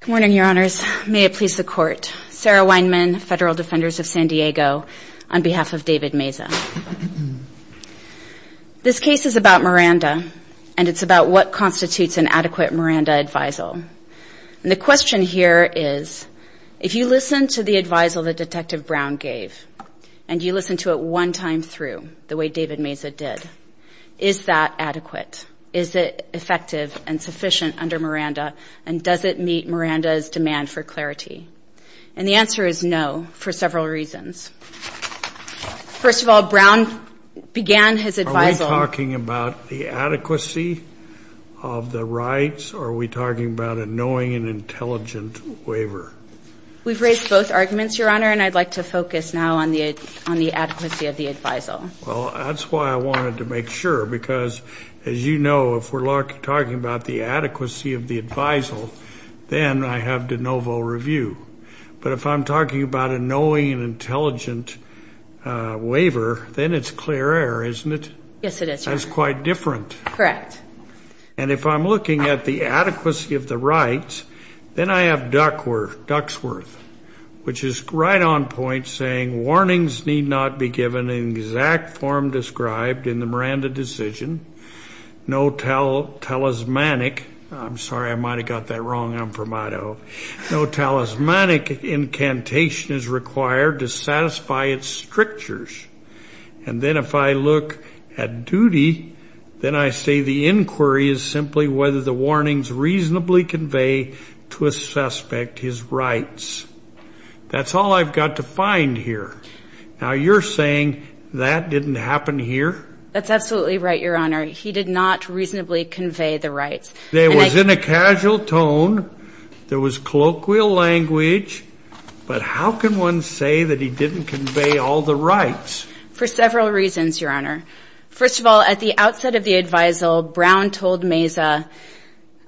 Good morning, Your Honors. May it please the Court. Sarah Weinman, Federal Defenders of San Diego, on behalf of David Meza. This case is about Miranda, and it's about what constitutes an adequate Miranda advisal. And the question here is, if you listen to the advisal that Detective Brown gave, and you listen to it one time through, the way David Meza did, is that adequate? Is it effective and sufficient under Miranda? And does it meet Miranda's demand for clarity? And the answer is no, for several reasons. First of all, Brown began his advisal – Are we talking about the adequacy of the rights, or are we talking about a knowing and intelligent waiver? We've raised both arguments, Your Honor, and I'd like to focus now on the adequacy of the advisal. Well, that's why I wanted to make sure, because, as you know, if we're talking about the adequacy of the advisal, then I have de novo review. But if I'm talking about a knowing and intelligent waiver, then it's clear air, isn't it? Yes, it is, Your Honor. That's quite different. Correct. And if I'm looking at the adequacy of the rights, then I have Duxworth, which is right on point, saying, warnings need not be given in exact form described in the Miranda decision. No talismanic – I'm sorry, I might have got that wrong. I'm from Idaho. No talismanic incantation is required to satisfy its strictures. And then if I look at duty, then I say the inquiry is simply whether the warnings reasonably convey to a suspect his rights. That's all I've got to find here. Now, you're saying that didn't happen here? That's absolutely right, Your Honor. He did not reasonably convey the rights. It was in a casual tone. There was colloquial language. But how can one say that he didn't convey all the rights? For several reasons, Your Honor. First of all, at the outset of the advisal, Brown told Meza,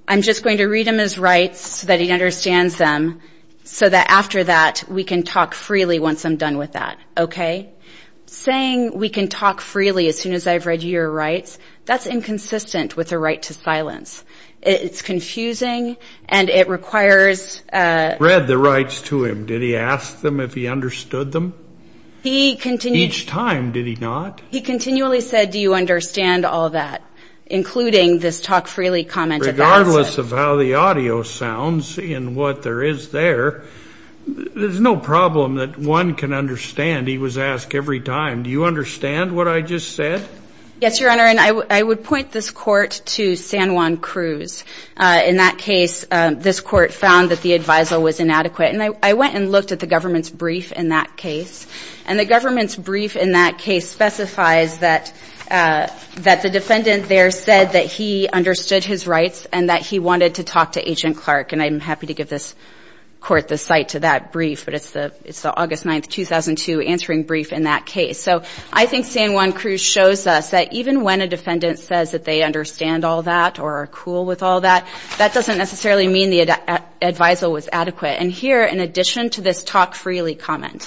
I'm just going to read him his rights so that he understands them, so that after that, we can talk freely once I'm done with that. Saying we can talk freely as soon as I've read your rights, that's inconsistent with the right to silence. It's confusing, and it requires – Read the rights to him. Did he ask them if he understood them? Each time, did he not? He continually said, do you understand all that, including this talk freely comment at the outset. Regardless of how the audio sounds and what there is there, there's no problem that one can understand. He was asked every time, do you understand what I just said? Yes, Your Honor, and I would point this court to San Juan Cruz. In that case, this court found that the advisal was inadequate, and I went and looked at the government's brief in that case. And the government's brief in that case specifies that the defendant there said that he understood his rights and that he wanted to talk to Agent Clark. And I'm happy to give this court the site to that brief, but it's the August 9, 2002, answering brief in that case. So I think San Juan Cruz shows us that even when a defendant says that they understand all that or are cool with all that, that doesn't necessarily mean the advisal was adequate. And here, in addition to this talk freely comment,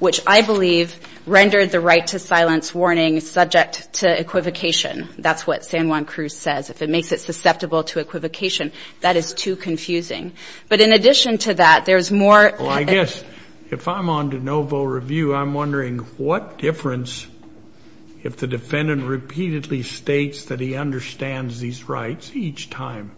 which I believe rendered the right to silence warning subject to equivocation. That's what San Juan Cruz says. If it makes it susceptible to equivocation, that is too confusing. But in addition to that, there's more. Well, I guess if I'm on de novo review, I'm wondering what difference if the defendant repeatedly states that he understands these rights each time.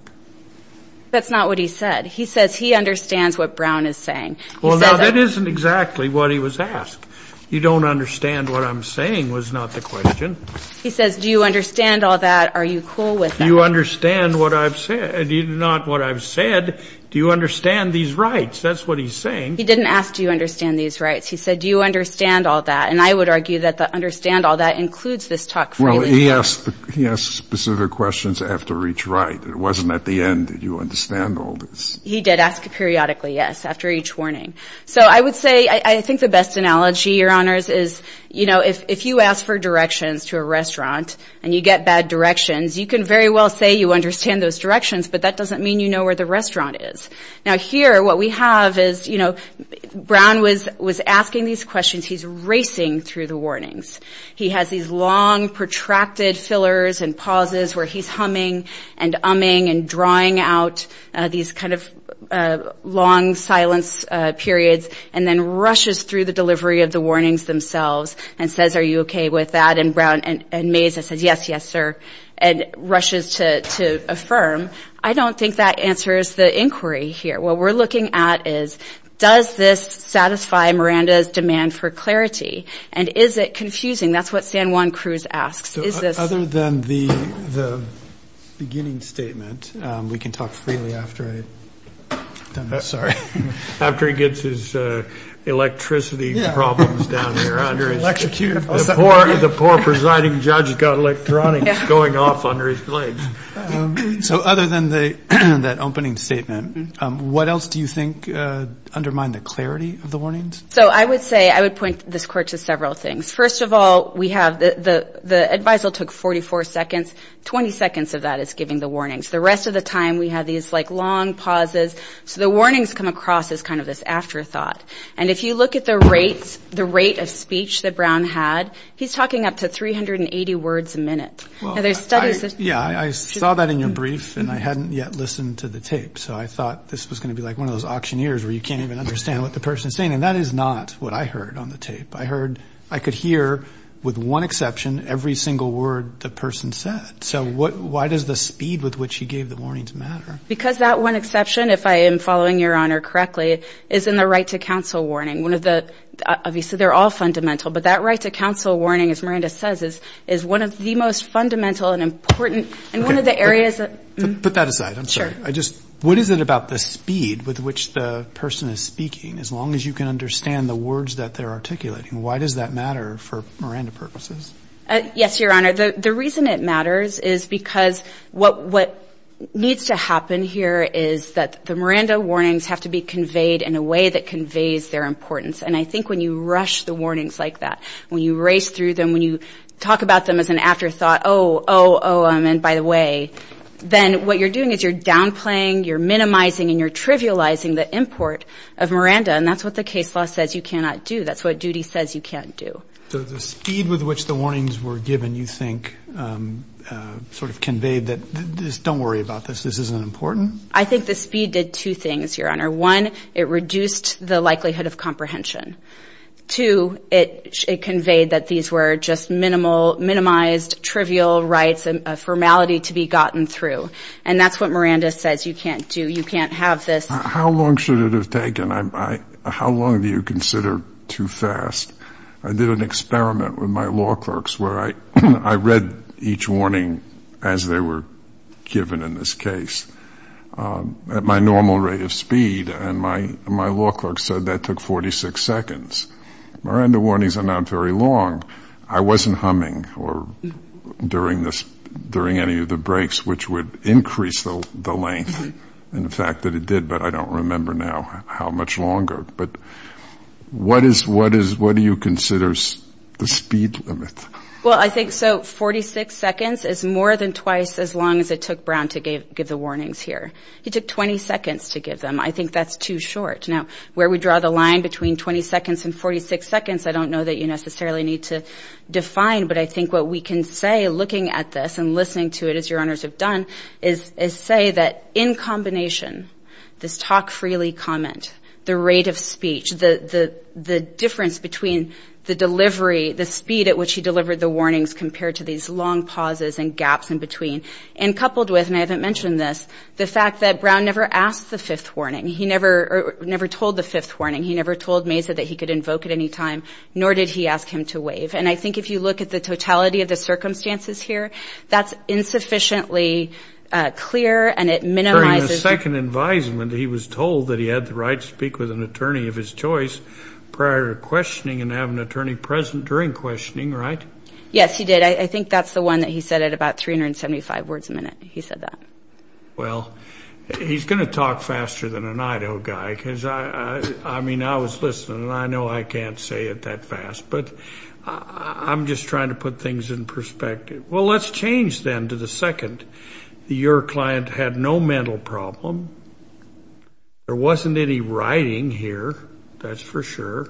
That's not what he said. He says he understands what Brown is saying. Well, now, that isn't exactly what he was asked. You don't understand what I'm saying was not the question. He says, do you understand all that? Are you cool with that? Do you understand what I've said? Not what I've said. Do you understand these rights? That's what he's saying. He didn't ask, do you understand these rights? He said, do you understand all that? And I would argue that the understand all that includes this talk freely. Well, he asked specific questions after each right. It wasn't at the end that you understand all this. He did ask periodically, yes, after each warning. So I would say I think the best analogy, Your Honors, is, you know, if you ask for directions to a restaurant and you get bad directions, you can very well say you understand those directions, but that doesn't mean you know where the restaurant is. Now, here, what we have is, you know, Brown was asking these questions. He's racing through the warnings. He has these long protracted fillers and pauses where he's humming and umming and drawing out these kind of long silence periods and then rushes through the delivery of the warnings themselves and says, are you okay with that? And Mays says, yes, yes, sir, and rushes to affirm. I don't think that answers the inquiry here. What we're looking at is, does this satisfy Miranda's demand for clarity? And is it confusing? That's what San Juan Cruz asks. Other than the beginning statement, we can talk freely after he gets his electricity problems down here. The poor presiding judge has got electronics going off under his legs. So other than that opening statement, what else do you think undermined the clarity of the warnings? So I would say I would point this court to several things. First of all, we have the advisal took 44 seconds. Twenty seconds of that is giving the warnings. The rest of the time, we have these like long pauses. So the warnings come across as kind of this afterthought. And if you look at the rates, the rate of speech that Brown had, he's talking up to 380 words a minute. Yeah, I saw that in your brief, and I hadn't yet listened to the tape. So I thought this was going to be like one of those auctioneers where you can't even understand what the person is saying. And that is not what I heard on the tape. I heard – I could hear with one exception every single word the person said. So why does the speed with which he gave the warnings matter? Because that one exception, if I am following Your Honor correctly, is in the right to counsel warning, one of the – obviously they're all fundamental, but that right to counsel warning, as Miranda says, is one of the most fundamental and important – and one of the areas that – Put that aside. I'm sorry. Sure. I just – what is it about the speed with which the person is speaking? As long as you can understand the words that they're articulating, why does that matter for Miranda purposes? Yes, Your Honor. The reason it matters is because what needs to happen here is that the Miranda warnings have to be conveyed in a way that conveys their importance. And I think when you rush the warnings like that, when you race through them, when you talk about them as an afterthought, oh, oh, oh, and by the way, then what you're doing is you're downplaying, you're minimizing, and you're trivializing the import of Miranda. And that's what the case law says you cannot do. That's what duty says you can't do. So the speed with which the warnings were given, you think, sort of conveyed that, don't worry about this, this isn't important? I think the speed did two things, Your Honor. One, it reduced the likelihood of comprehension. Two, it conveyed that these were just minimized, trivial rights, a formality to be gotten through. And that's what Miranda says you can't do. You can't have this. How long should it have taken? How long do you consider too fast? I did an experiment with my law clerks where I read each warning as they were given in this case. At my normal rate of speed, and my law clerk said that took 46 seconds. Miranda warnings are not very long. I wasn't humming during any of the breaks, which would increase the length, and the fact that it did, but I don't remember now how much longer. But what do you consider the speed limit? Well, I think so. Forty-six seconds is more than twice as long as it took Brown to give the warnings here. He took 20 seconds to give them. I think that's too short. Now, where we draw the line between 20 seconds and 46 seconds, I don't know that you necessarily need to define, but I think what we can say looking at this and listening to it, as Your Honors have done, is say that in combination, this talk freely comment, the rate of speech, the difference between the delivery, the speed at which he delivered the warnings compared to these long pauses and gaps in between, and coupled with, and I haven't mentioned this, the fact that Brown never asked the fifth warning. He never told the fifth warning. He never told Mesa that he could invoke at any time, nor did he ask him to waive. And I think if you look at the totality of the circumstances here, that's insufficiently clear, and it minimizes the ---- prior to questioning and have an attorney present during questioning, right? Yes, he did. I think that's the one that he said at about 375 words a minute. He said that. Well, he's going to talk faster than an Idaho guy because, I mean, I was listening, and I know I can't say it that fast, but I'm just trying to put things in perspective. Well, let's change then to the second. Your client had no mental problem. There wasn't any writing here, that's for sure.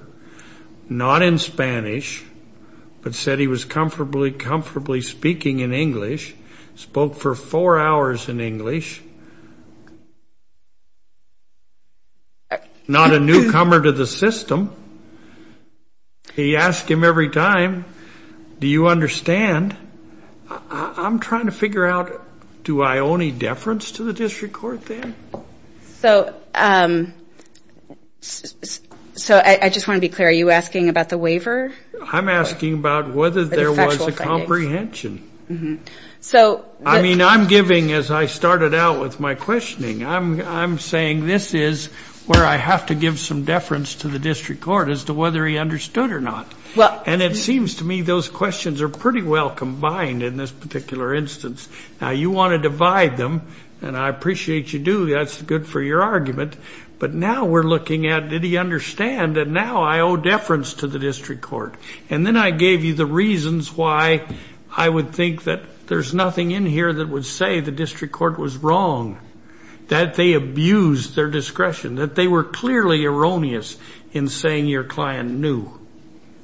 Not in Spanish, but said he was comfortably speaking in English. Spoke for four hours in English. Not a newcomer to the system. He asked him every time, Do you understand? I'm trying to figure out, do I owe any deference to the district court there? So I just want to be clear, are you asking about the waiver? I'm asking about whether there was a comprehension. I mean, I'm giving, as I started out with my questioning, I'm saying this is where I have to give some deference to the district court as to whether he understood or not. And it seems to me those questions are pretty well combined in this particular instance. Now, you want to divide them, and I appreciate you do. That's good for your argument. But now we're looking at did he understand, and now I owe deference to the district court. And then I gave you the reasons why I would think that there's nothing in here that would say the district court was wrong, that they abused their discretion, that they were clearly erroneous in saying your client knew.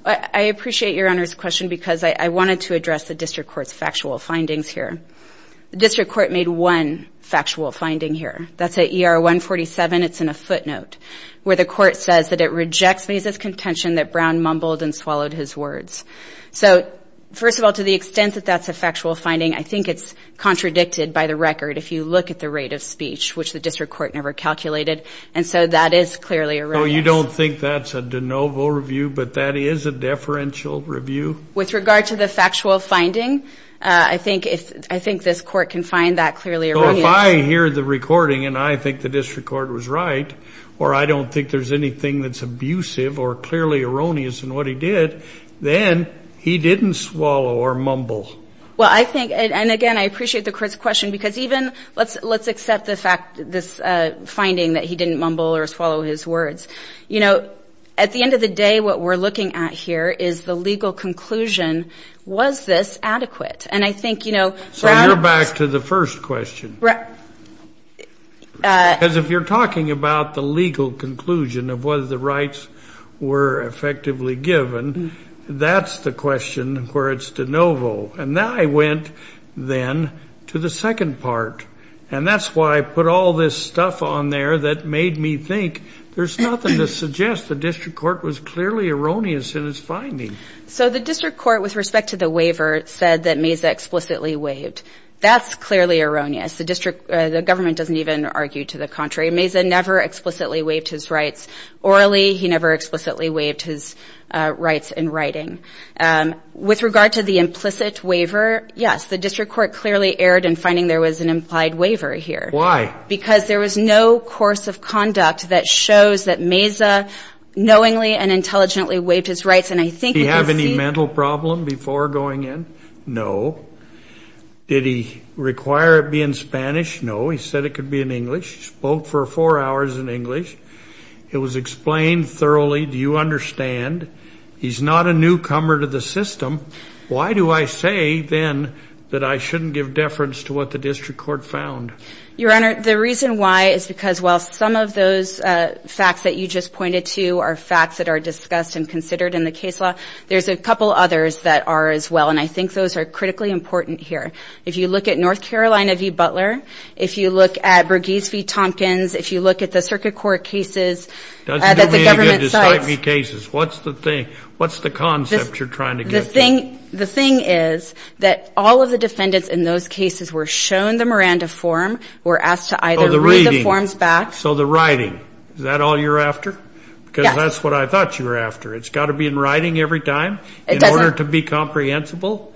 I appreciate your Honor's question because I wanted to address the district court's factual findings here. The district court made one factual finding here. That's at ER 147. It's in a footnote where the court says that it rejects Mesa's contention that Brown mumbled and swallowed his words. So, first of all, to the extent that that's a factual finding, I think it's contradicted by the record, if you look at the rate of speech, which the district court never calculated. And so that is clearly erroneous. I don't think that's a de novo review, but that is a deferential review. With regard to the factual finding, I think this court can find that clearly erroneous. So if I hear the recording and I think the district court was right, or I don't think there's anything that's abusive or clearly erroneous in what he did, then he didn't swallow or mumble. Well, I think, and again, I appreciate the court's question because even, let's accept the fact, this finding that he didn't mumble or swallow his words. You know, at the end of the day, what we're looking at here is the legal conclusion. Was this adequate? And I think, you know, Brown. So you're back to the first question. Right. Because if you're talking about the legal conclusion of whether the rights were effectively given, that's the question where it's de novo. And now I went then to the second part. And that's why I put all this stuff on there that made me think there's nothing to suggest the district court was clearly erroneous in its finding. So the district court, with respect to the waiver, said that Mesa explicitly waived. That's clearly erroneous. The government doesn't even argue to the contrary. Mesa never explicitly waived his rights orally. He never explicitly waived his rights in writing. With regard to the implicit waiver, yes, the district court clearly erred in finding there was an implied waiver here. Why? Because there was no course of conduct that shows that Mesa knowingly and intelligently waived his rights. And I think we can see. Did he have any mental problem before going in? No. Did he require it be in Spanish? No. He said it could be in English. He spoke for four hours in English. It was explained thoroughly. Do you understand? He's not a newcomer to the system. Why do I say, then, that I shouldn't give deference to what the district court found? Your Honor, the reason why is because while some of those facts that you just pointed to are facts that are discussed and considered in the case law, there's a couple others that are as well, and I think those are critically important here. If you look at North Carolina v. Butler, if you look at Briggs v. Tompkins, if you look at the circuit court cases that the government cites. It doesn't do me any good to cite any cases. What's the thing? What's the concept you're trying to get to? The thing is that all of the defendants in those cases were shown the Miranda form, were asked to either read the forms back. Oh, the reading. So the writing. Is that all you're after? Yes. Because that's what I thought you were after. It's got to be in writing every time in order to be comprehensible? It doesn't.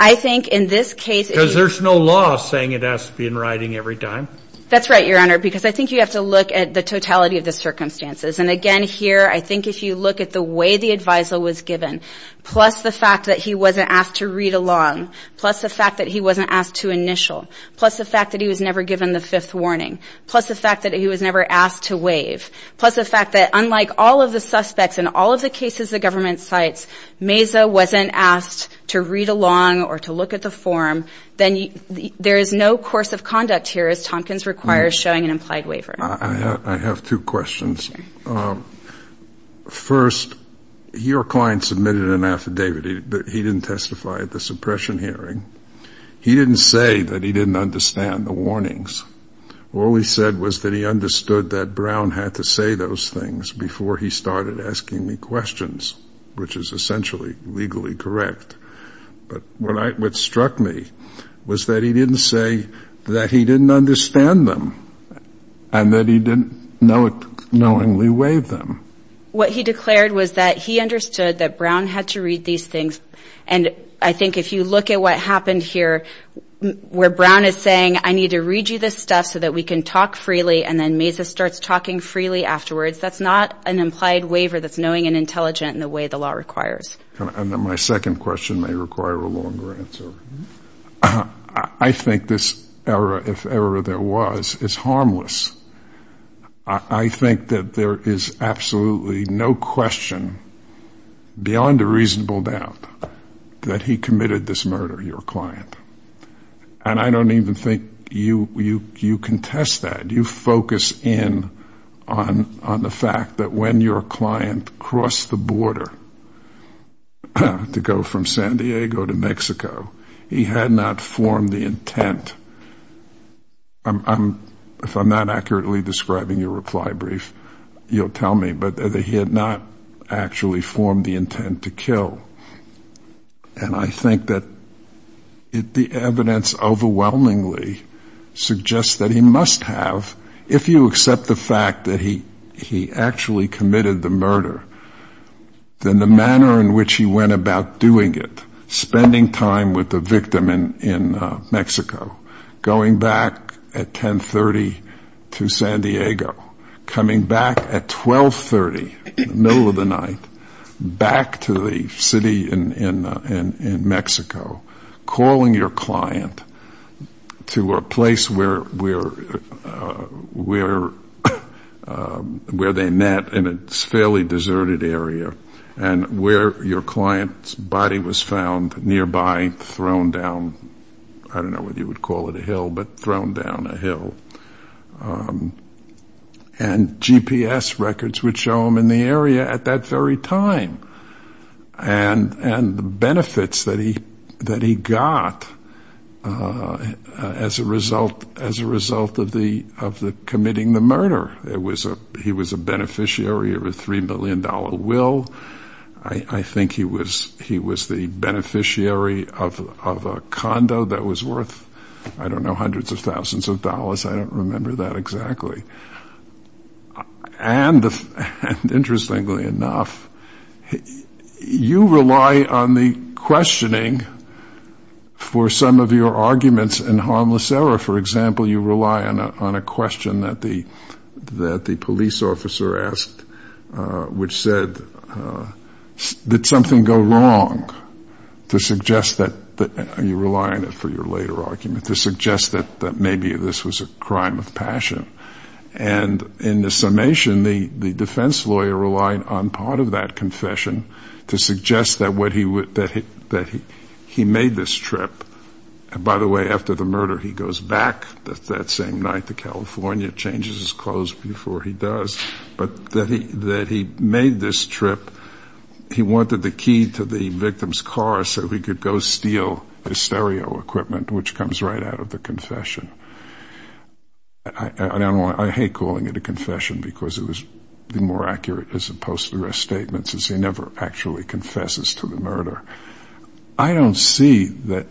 I think in this case. Because there's no law saying it has to be in writing every time. That's right, Your Honor, because I think you have to look at the totality of the circumstances. And again, here, I think if you look at the way the adviser was given, plus the fact that he wasn't asked to read along, plus the fact that he wasn't asked to initial, plus the fact that he was never given the fifth warning, plus the fact that he was never asked to waive, plus the fact that unlike all of the suspects in all of the cases the government cites, Mazza wasn't asked to read along or to look at the form, then there is no course of conduct here, as Tompkins requires, showing an implied waiver. I have two questions. First, your client submitted an affidavit, but he didn't testify at the suppression hearing. He didn't say that he didn't understand the warnings. All he said was that he understood that Brown had to say those things before he started asking me questions, which is essentially legally correct. But what struck me was that he didn't say that he didn't understand them and that he didn't knowingly waive them. What he declared was that he understood that Brown had to read these things. And I think if you look at what happened here, where Brown is saying, I need to read you this stuff so that we can talk freely, and then Mazza starts talking freely afterwards, that's not an implied waiver that's knowing and intelligent in the way the law requires. My second question may require a longer answer. I think this error, if ever there was, is harmless. I think that there is absolutely no question beyond a reasonable doubt that he committed this murder, your client. And I don't even think you contest that. You focus in on the fact that when your client crossed the border to go from San Diego to Mexico, he had not formed the intent. If I'm not accurately describing your reply brief, you'll tell me. But that he had not actually formed the intent to kill. And I think that the evidence overwhelmingly suggests that he must have, if you accept the fact that he actually committed the murder, then the manner in which he went about doing it, spending time with the victim in Mexico, going back at 10.30 to San Diego, coming back at 12.30, middle of the night, back to the city in Mexico, calling your client to a place where they met in a fairly deserted area, and where your client's body was found nearby, thrown down, I don't know whether you would call it a hill, but thrown down a hill. And GPS records would show him in the area at that very time. And the benefits that he got as a result of committing the murder. He was a beneficiary of a $3 million will. I think he was the beneficiary of a condo that was worth, I don't know, hundreds of thousands of dollars. I don't remember that exactly. And interestingly enough, you rely on the questioning for some of your arguments in Harmless Error. For example, you rely on a question that the police officer asked, which said, did something go wrong? You rely on it for your later argument to suggest that maybe this was a crime of passion. And in the summation, the defense lawyer relied on part of that confession to suggest that he made this trip. And by the way, after the murder, he goes back that same night to California, changes his clothes before he does. But that he made this trip, he wanted the key to the victim's car so he could go steal his stereo equipment, which comes right out of the confession. I hate calling it a confession, because it would be more accurate as opposed to the rest statements, as he never actually confesses to the murder. I don't see that,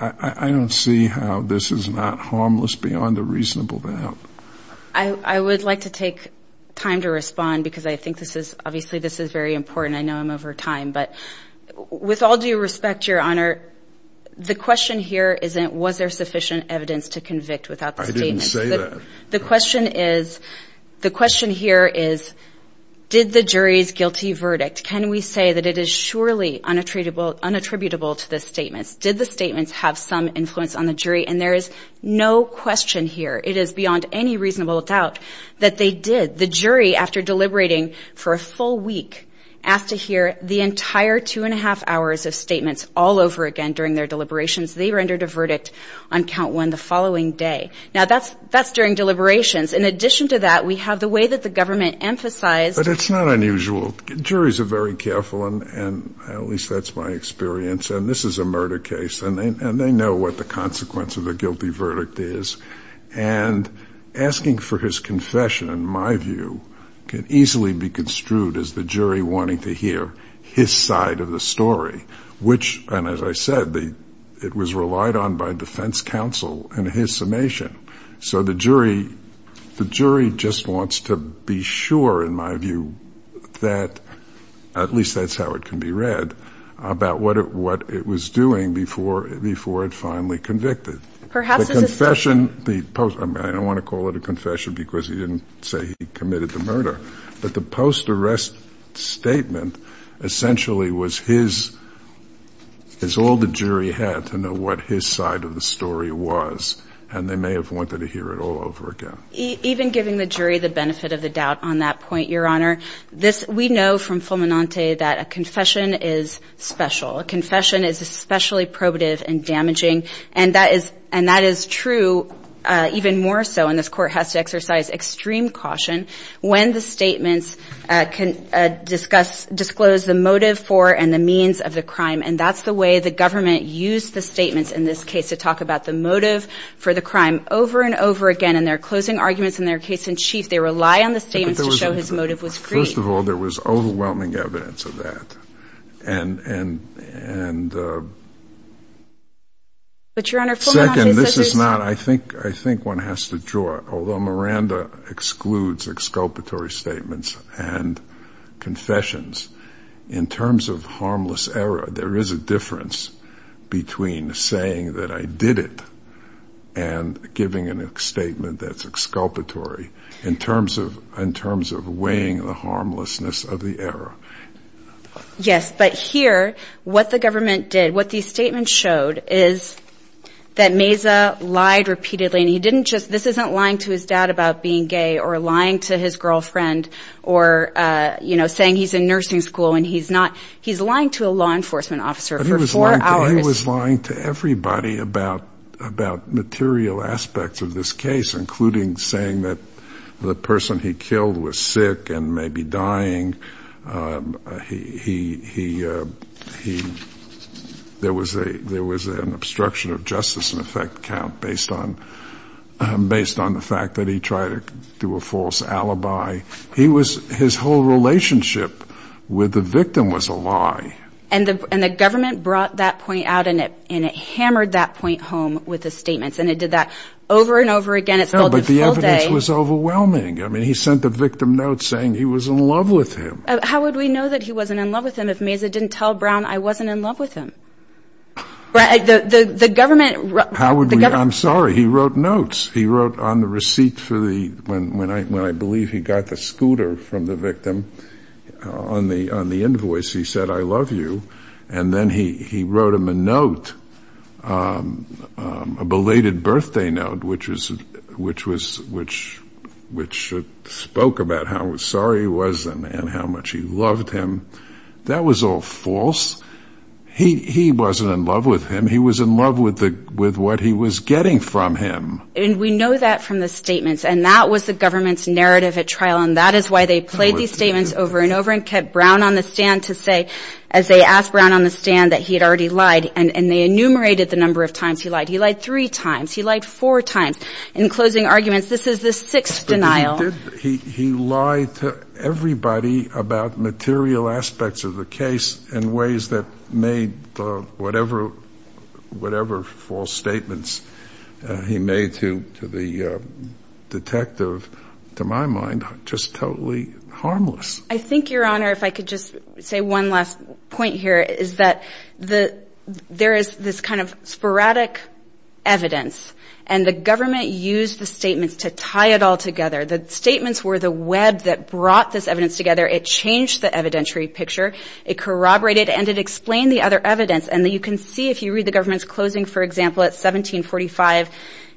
I don't see how this is not harmless beyond a reasonable doubt. I would like to take time to respond, because I think this is, obviously this is very important. I know I'm over time, but with all due respect, Your Honor, the question here isn't was there sufficient evidence to convict without the statement. I didn't say that. The question is, the question here is, did the jury's guilty verdict, can we say that it is surely unattributable to the statements? Did the statements have some influence on the jury? And there is no question here, it is beyond any reasonable doubt that they did. The jury, after deliberating for a full week, asked to hear the entire two and a half hours of statements all over again during their deliberations. They rendered a verdict on count one the following day. Now, that's during deliberations. In addition to that, we have the way that the government emphasized. But it's not unusual. Juries are very careful, and at least that's my experience, and this is a murder case, and they know what the consequence of a guilty verdict is. And asking for his confession, in my view, can easily be construed as the jury wanting to hear his side of the story, which, and as I said, it was relied on by defense counsel in his summation. So the jury just wants to be sure, in my view, that at least that's how it can be read, about what it was doing before it finally convicted. I don't want to call it a confession because he didn't say he committed the murder. But the post-arrest statement essentially was his, it's all the jury had to know what his side of the story was. And so I think that's a very important point that we've wanted to hear it all over again. Even giving the jury the benefit of the doubt on that point, Your Honor, we know from Fulminante that a confession is special. A confession is especially probative and damaging, and that is true even more so, and this court has to exercise extreme caution, when the statements disclose the motive for and the means of the crime. And that's the way the government used the statements in this case to talk about the motive for the crime. Over and over again in their closing arguments, in their case in chief, they rely on the statements to show his motive was free. First of all, there was overwhelming evidence of that. And second, this is not, I think one has to draw, although Miranda excludes exculpatory statements and confessions. In terms of harmless error, there is a difference between saying that I did it and giving a statement that's exculpatory, in terms of weighing the harmlessness of the error. Yes, but here, what the government did, what these statements showed, is that Meza lied repeatedly. And he didn't just, this isn't lying to his dad about being gay or lying to his girlfriend or, you know, saying he's in nursing school and he's not. He's lying to a law enforcement officer for four hours. But he was lying to everybody about material aspects of this case, including saying that the person he killed was sick and maybe dying. He, there was an obstruction of justice in effect count based on the fact that he tried to do a false alibi. He was, his whole relationship with the victim was a lie. And the government brought that point out and it hammered that point home with the statements. And it did that over and over again. No, but the evidence was overwhelming. I mean, he sent the victim notes saying he was in love with him. How would we know that he wasn't in love with him if Meza didn't tell Brown I wasn't in love with him? I'm sorry, he wrote notes. He wrote on the receipt for the, when I believe he got the scooter from the victim on the invoice, he said, I love you. And then he wrote him a note, a belated birthday note, which was, which spoke about how sorry he was and how much he loved him. That was all false. He wasn't in love with him. He was in love with the, with what he was getting from him. And we know that from the statements and that was the government's narrative at trial. And that is why they played these statements over and over and kept Brown on the stand to say, as they asked Brown on the stand that he had already lied. And they enumerated the number of times he lied. He lied three times. He lied four times. In closing arguments, this is the sixth denial. He lied to everybody about material aspects of the case in ways that made whatever, whatever false statements he made to the detective, to my mind, just totally harmless. I think, Your Honor, if I could just say one last point here is that there is this kind of sporadic evidence. And the government used the statements to tie it all together. The statements were the web that brought this evidence together. It changed the evidentiary picture. It corroborated and it explained the other evidence. And you can see if you read the government's closing, for example, at 1745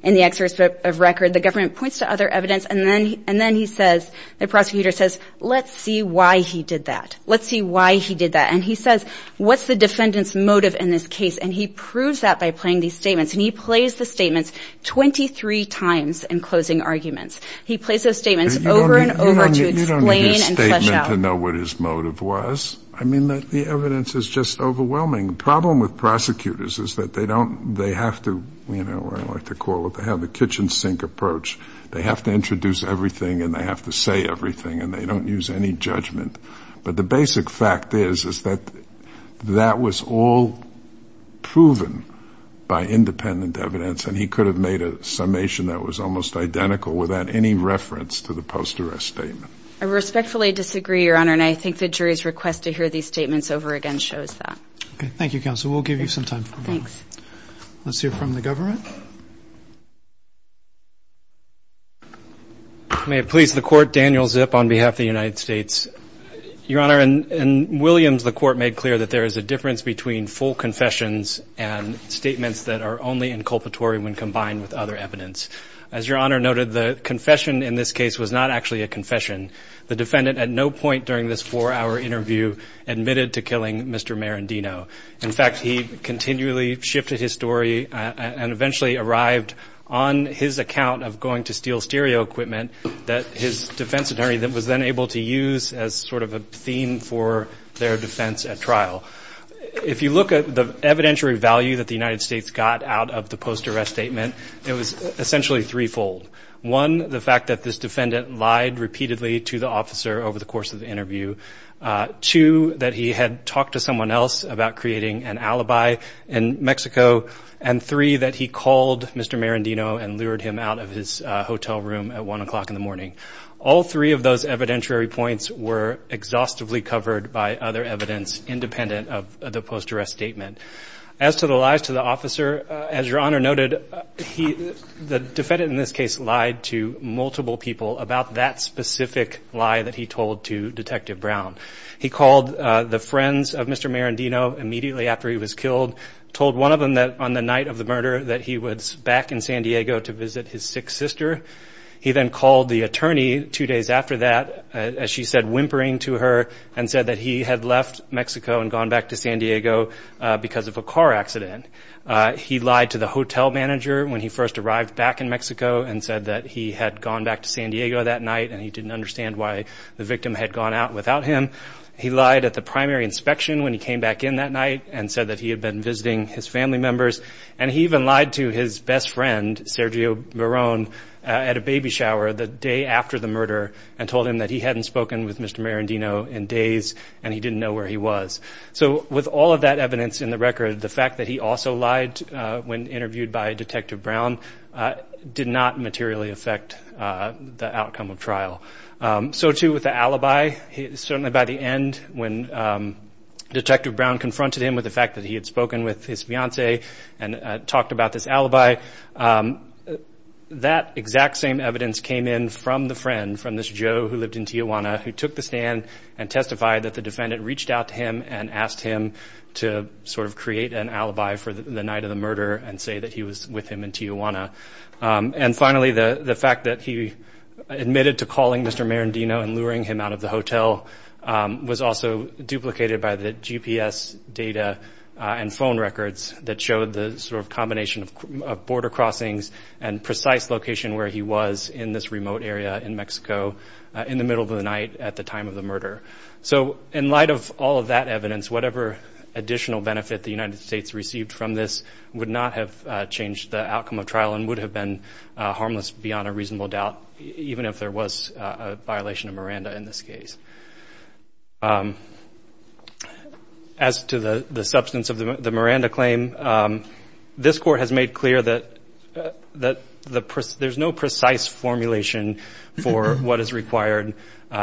in the excerpt of record, the government points to other evidence. And then he says, the prosecutor says, let's see why he did that. Let's see why he did that. And he says, what's the defendant's motive in this case? And he proves that by playing these statements. And he plays the statements 23 times in closing arguments. He plays those statements over and over to explain and flesh out. You don't need a statement to know what his motive was. I mean, the evidence is just overwhelming. The problem with prosecutors is that they don't, they have to, you know, I like to call it, they have the kitchen sink approach. They have to introduce everything and they have to say everything and they don't use any judgment. But the basic fact is, is that that was all proven by independent evidence. And he could have made a summation that was almost identical without any reference to the post-arrest statement. I respectfully disagree, Your Honor. And I think the jury's request to hear these statements over again shows that. Thank you, counsel. We'll give you some time. Thanks. Let's hear from the government. May it please the court. Daniel Zip on behalf of the United States, Your Honor. And Williams, the court made clear that there is a difference between full confessions and statements that are only inculpatory when combined with other evidence. As Your Honor noted, the confession in this case was not actually a confession. The defendant at no point during this four hour interview admitted to killing Mr. Marandino. In fact, he continually shifted his story and eventually arrived on his account of going to steal stereo equipment that his defense attorney was then able to use as sort of a theme for their defense at trial. If you look at the evidentiary value that the United States got out of the post-arrest statement, it was essentially threefold. One, the fact that this defendant lied repeatedly to the officer over the course of the interview. Two, that he had talked to someone else about creating an alibi in Mexico. And three, that he called Mr. Marandino and lured him out of his hotel room at one o'clock in the morning. All three of those evidentiary points were exhaustively covered by other evidence independent of the post-arrest statement. As to the lies to the officer, as Your Honor noted, the defendant in this case lied to multiple people about that specific lie that he told to Detective Brown. He called the friends of Mr. Marandino immediately after he was killed, told one of them that on the night of the murder that he was back in San Diego to visit his sick sister. He then called the attorney two days after that, as she said, whimpering to her and said that he had left Mexico and gone back to San Diego because of a car accident. He lied to the hotel manager when he first arrived back in Mexico and said that he had gone back to San Diego that night and he didn't understand why the victim had gone out without him. He lied at the primary inspection when he came back in that night and said that he had been visiting his family members. And he even lied to his best friend, Sergio Marron, at a baby shower the day after the murder and told him that he hadn't spoken with Mr. Marandino in days and he didn't know where he was. So with all of that evidence in the record, the fact that he also lied when interviewed by Detective Brown did not materially affect the outcome of trial. The fact that he admitted to calling Mr. Marandino and luring him out of the hotel was also duplicated by the GPS data and phone records that showed the location of the victim. So in light of all of that evidence, whatever additional benefit the United States received from this would not have changed the outcome of trial and would have been harmless beyond a reasonable doubt, even if there was a violation of Miranda in this case. As to the substance of the Miranda claim, this Court has made clear that there's no precise formulation for what is required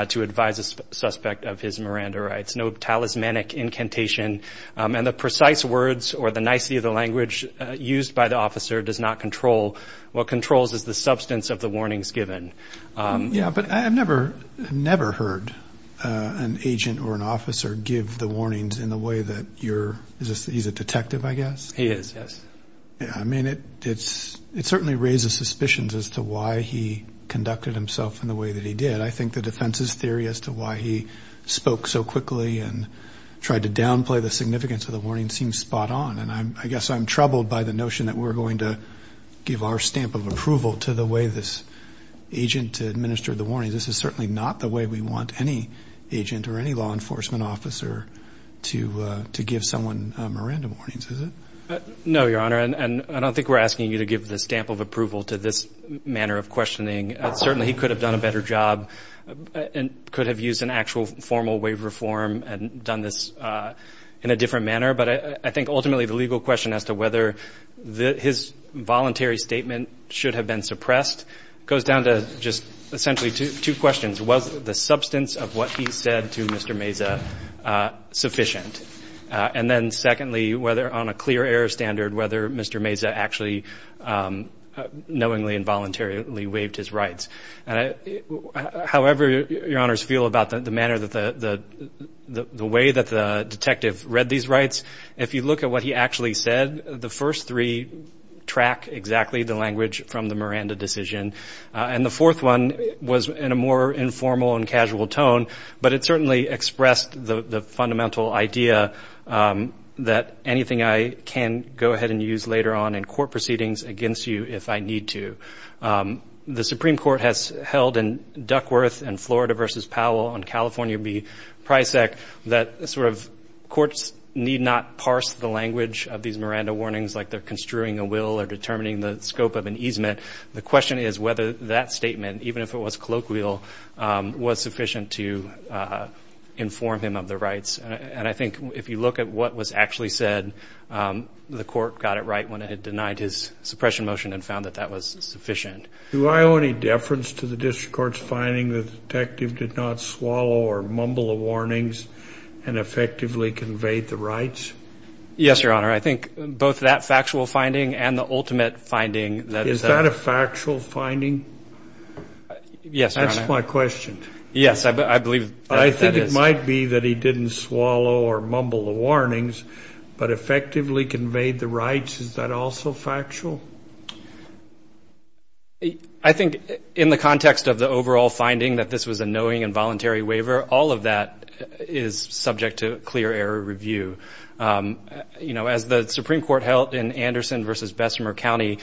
to advise a suspect of his Miranda rights. No talismanic incantation. And the precise words or the nicety of the language used by the officer does not control what controls the substance of the warnings given. Yeah, but I've never, never heard an agent or an officer give the warnings in the way that you're, he's a detective, I guess. He is, yes. I mean, it's, it certainly raises suspicions as to why he conducted himself in the way that he did. I think the defense's theory as to why he spoke so quickly and tried to downplay the significance of the warning seems spot on. And I guess I'm troubled by the notion that we're going to give our stamp of approval to the way this agent or an officer conducts himself. I don't think we're asking the agent to administer the warnings. This is certainly not the way we want any agent or any law enforcement officer to, to give someone Miranda warnings, is it? No, Your Honor, and I don't think we're asking you to give the stamp of approval to this manner of questioning. Certainly he could have done a better job and could have used an actual formal waiver form and done this in a different manner. But I think ultimately the legal question as to whether his voluntary statement should have been suppressed goes down to just the fact that he's a detective. And I think there's just essentially two questions. Was the substance of what he said to Mr. Meza sufficient? And then secondly, whether on a clear air standard, whether Mr. Meza actually knowingly and voluntarily waived his rights. However Your Honors feel about the manner that the, the way that the detective read these rights, if you look at what he actually said, the first three track exactly the language from the Miranda decision. The second one was in a more informal and casual tone, but it certainly expressed the fundamental idea that anything I can go ahead and use later on in court proceedings against you if I need to. The Supreme Court has held in Duckworth and Florida versus Powell on California v. Prysac that sort of courts need not parse the language of these Miranda warnings like they're construing a will or determining the scope of an easement. The question is whether that statement, even if it was colloquial, was sufficient to inform him of the rights. And I think if you look at what was actually said, the court got it right when it had denied his suppression motion and found that that was sufficient. Do I owe any deference to the district court's finding that the detective did not swallow or mumble the warnings and effectively conveyed the rights? Yes, Your Honor. Is that a factual finding? Yes, Your Honor. That's my question. Yes, I believe that is. I think it might be that he didn't swallow or mumble the warnings, but effectively conveyed the rights. Is that also factual? I think in the context of the overall finding that this was a knowing and voluntary waiver, all of that is subject to clear error review. As the Supreme Court held in Anderson v. Bessemer County,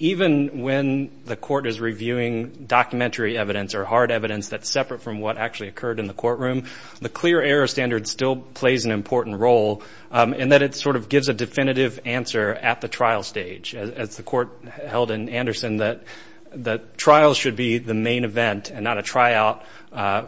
even when the court is reviewing documentary evidence or hard evidence that's separate from what actually occurred in the courtroom, the clear error standard still plays an important role in that it sort of gives a definitive answer at the trial stage. As the court held in Anderson, the trial should be the main event and not a tryout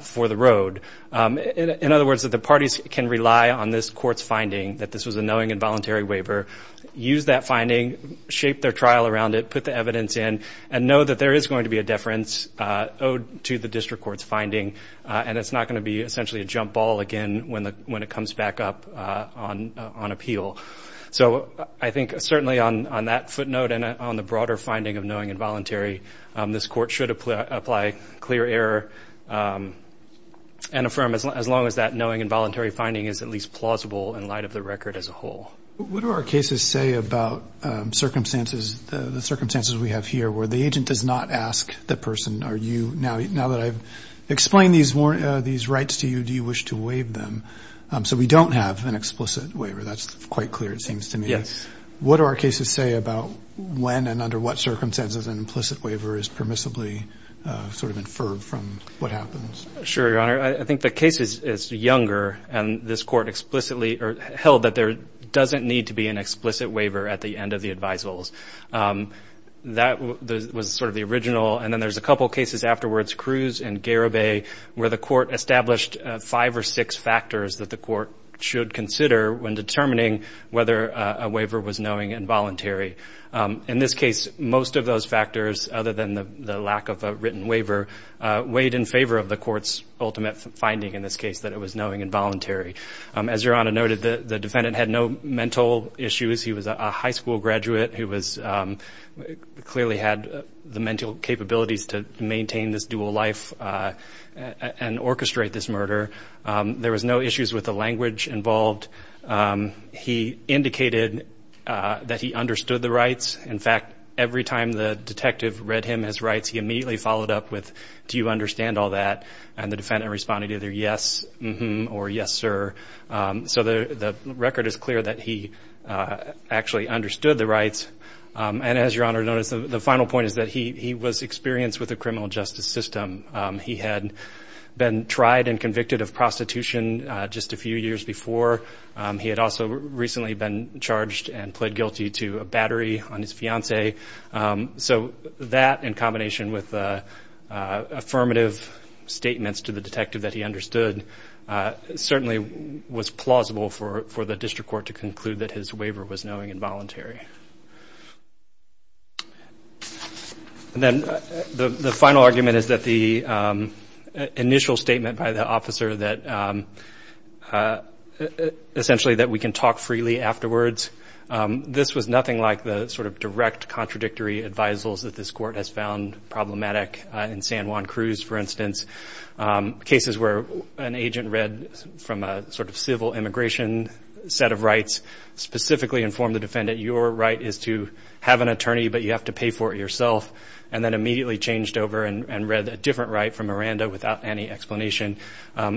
for the road. In other words, the parties can rely on this court's finding that this was a knowing and voluntary waiver, use that finding, shape their trial around it, put the evidence in, and know that there is going to be a deference owed to the district court's finding. And it's not going to be essentially a jump ball again when it comes back up on appeal. So I think certainly on that footnote and on the broader finding of knowing and voluntary, this court should apply clear error. And affirm as long as that knowing and voluntary finding is at least plausible in light of the record as a whole. What do our cases say about circumstances, the circumstances we have here where the agent does not ask the person, are you, now that I've explained these rights to you, do you wish to waive them? So we don't have an explicit waiver. That's quite clear, it seems to me. Yes. What do our cases say about when and under what circumstances an implicit waiver is permissibly sort of inferred from what happens? Sure, Your Honor. I think the case is younger, and this court explicitly held that there doesn't need to be an explicit waiver at the end of the advisals. That was sort of the original, and then there's a couple cases afterwards, Cruz and Garibay, where the court established five or six factors that the court should consider when determining whether a waiver was knowing and voluntary. In this case, most of those factors, other than the lack of a written waiver, weighed in favor of the court's decision. The court's ultimate finding in this case that it was knowing and voluntary. As Your Honor noted, the defendant had no mental issues. He was a high school graduate who clearly had the mental capabilities to maintain this dual life and orchestrate this murder. There was no issues with the language involved. He indicated that he understood the rights. In fact, every time the detective read him his rights, he immediately followed up with, do you understand all that? And the defendant responded either yes, mm-hmm, or yes, sir. So the record is clear that he actually understood the rights. And as Your Honor noted, the final point is that he was experienced with the criminal justice system. He had been tried and convicted of prostitution just a few years before. He had also recently been charged and pled guilty to a battery on his fiancée. So that, in combination with the affirmative statements to the detective that he understood, certainly was plausible for the district court to conclude that his waiver was knowing and voluntary. And then the final argument is that the initial statement by the officer that it was knowing and voluntary. Essentially that we can talk freely afterwards. This was nothing like the sort of direct contradictory advisals that this court has found problematic in San Juan Cruz, for instance. Cases where an agent read from a sort of civil immigration set of rights, specifically informed the defendant, your right is to have an attorney, but you have to pay for it yourself. And then immediately changed over and read a different right from Miranda without any explanation.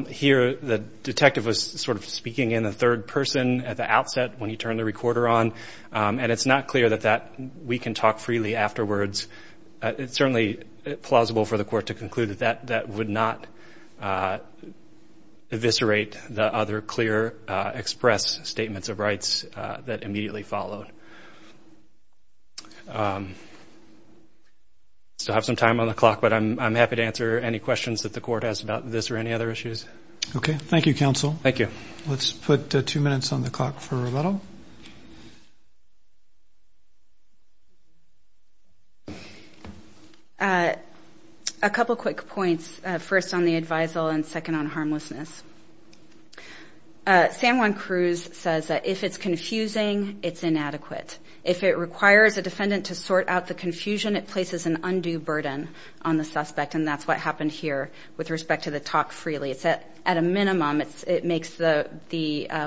Here the detective was sort of speaking in the third person at the outset when he turned the recorder on. And it's not clear that that we can talk freely afterwards. It's certainly plausible for the court to conclude that that would not eviscerate the other clear express statements of rights that immediately followed. So I have some time on the clock, but I'm happy to answer any questions that the court has about this or any other issues. Okay. Thank you, counsel. Thank you. Let's put two minutes on the clock for rebuttal. A couple of quick points, first on the advisal and second on harmlessness. San Juan Cruz says that if it's confusing, it's inadequate. If it requires a defendant to sort out the confusion, it places an undue burden on the suspect. And that's what happened here with respect to the talk freely. It's at a minimum, it makes the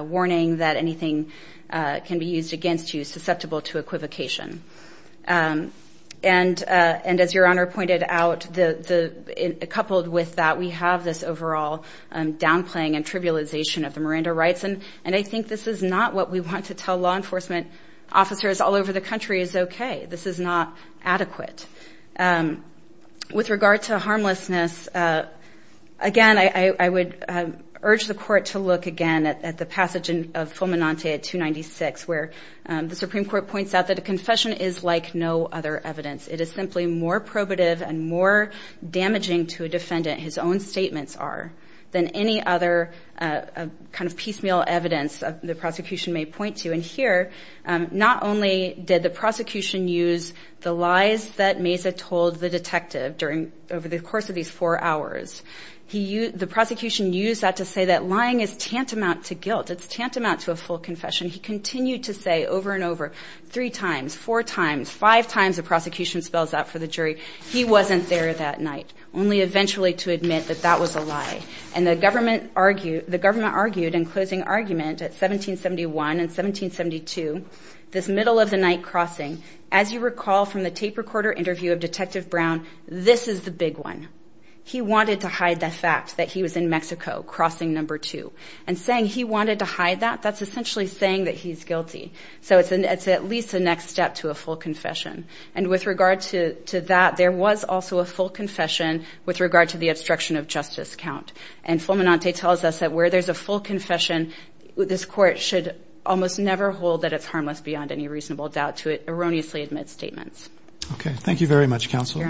warning that anything can be used against you susceptible to equivocation. And as Your Honor pointed out, coupled with that, we have this overall doubt that the defendant is not being heard. And I think this is not what we want to tell law enforcement officers all over the country is okay. This is not adequate. With regard to harmlessness, again, I would urge the court to look again at the passage of Fulminante 296, where the Supreme Court points out that a confession is like no other evidence. It is simply more probative and more damaging to a defendant, his own statements are, than any other evidence. It's not like any other kind of piecemeal evidence the prosecution may point to. And here, not only did the prosecution use the lies that Mesa told the detective over the course of these four hours. The prosecution used that to say that lying is tantamount to guilt. It's tantamount to a full confession. He continued to say over and over, three times, four times, five times the prosecution spells out for the jury, he wasn't there that night. Only eventually to admit that that was a lie. And the government argued in closing argument at 1771 and 1772, this middle of the night crossing. As you recall from the tape recorder interview of Detective Brown, this is the big one. He wanted to hide the fact that he was in Mexico, crossing number two. And saying he wanted to hide that, that's essentially saying that he's guilty. So it's at least a next step to a full confession. And with regard to that, there was also a full confession with regard to the obstruction of justice count. And Fulminante tells us that where there's a full confession, this court should almost never hold that it's harmless beyond any reasonable doubt to erroneously admit statements. Okay, thank you very much, Counsel.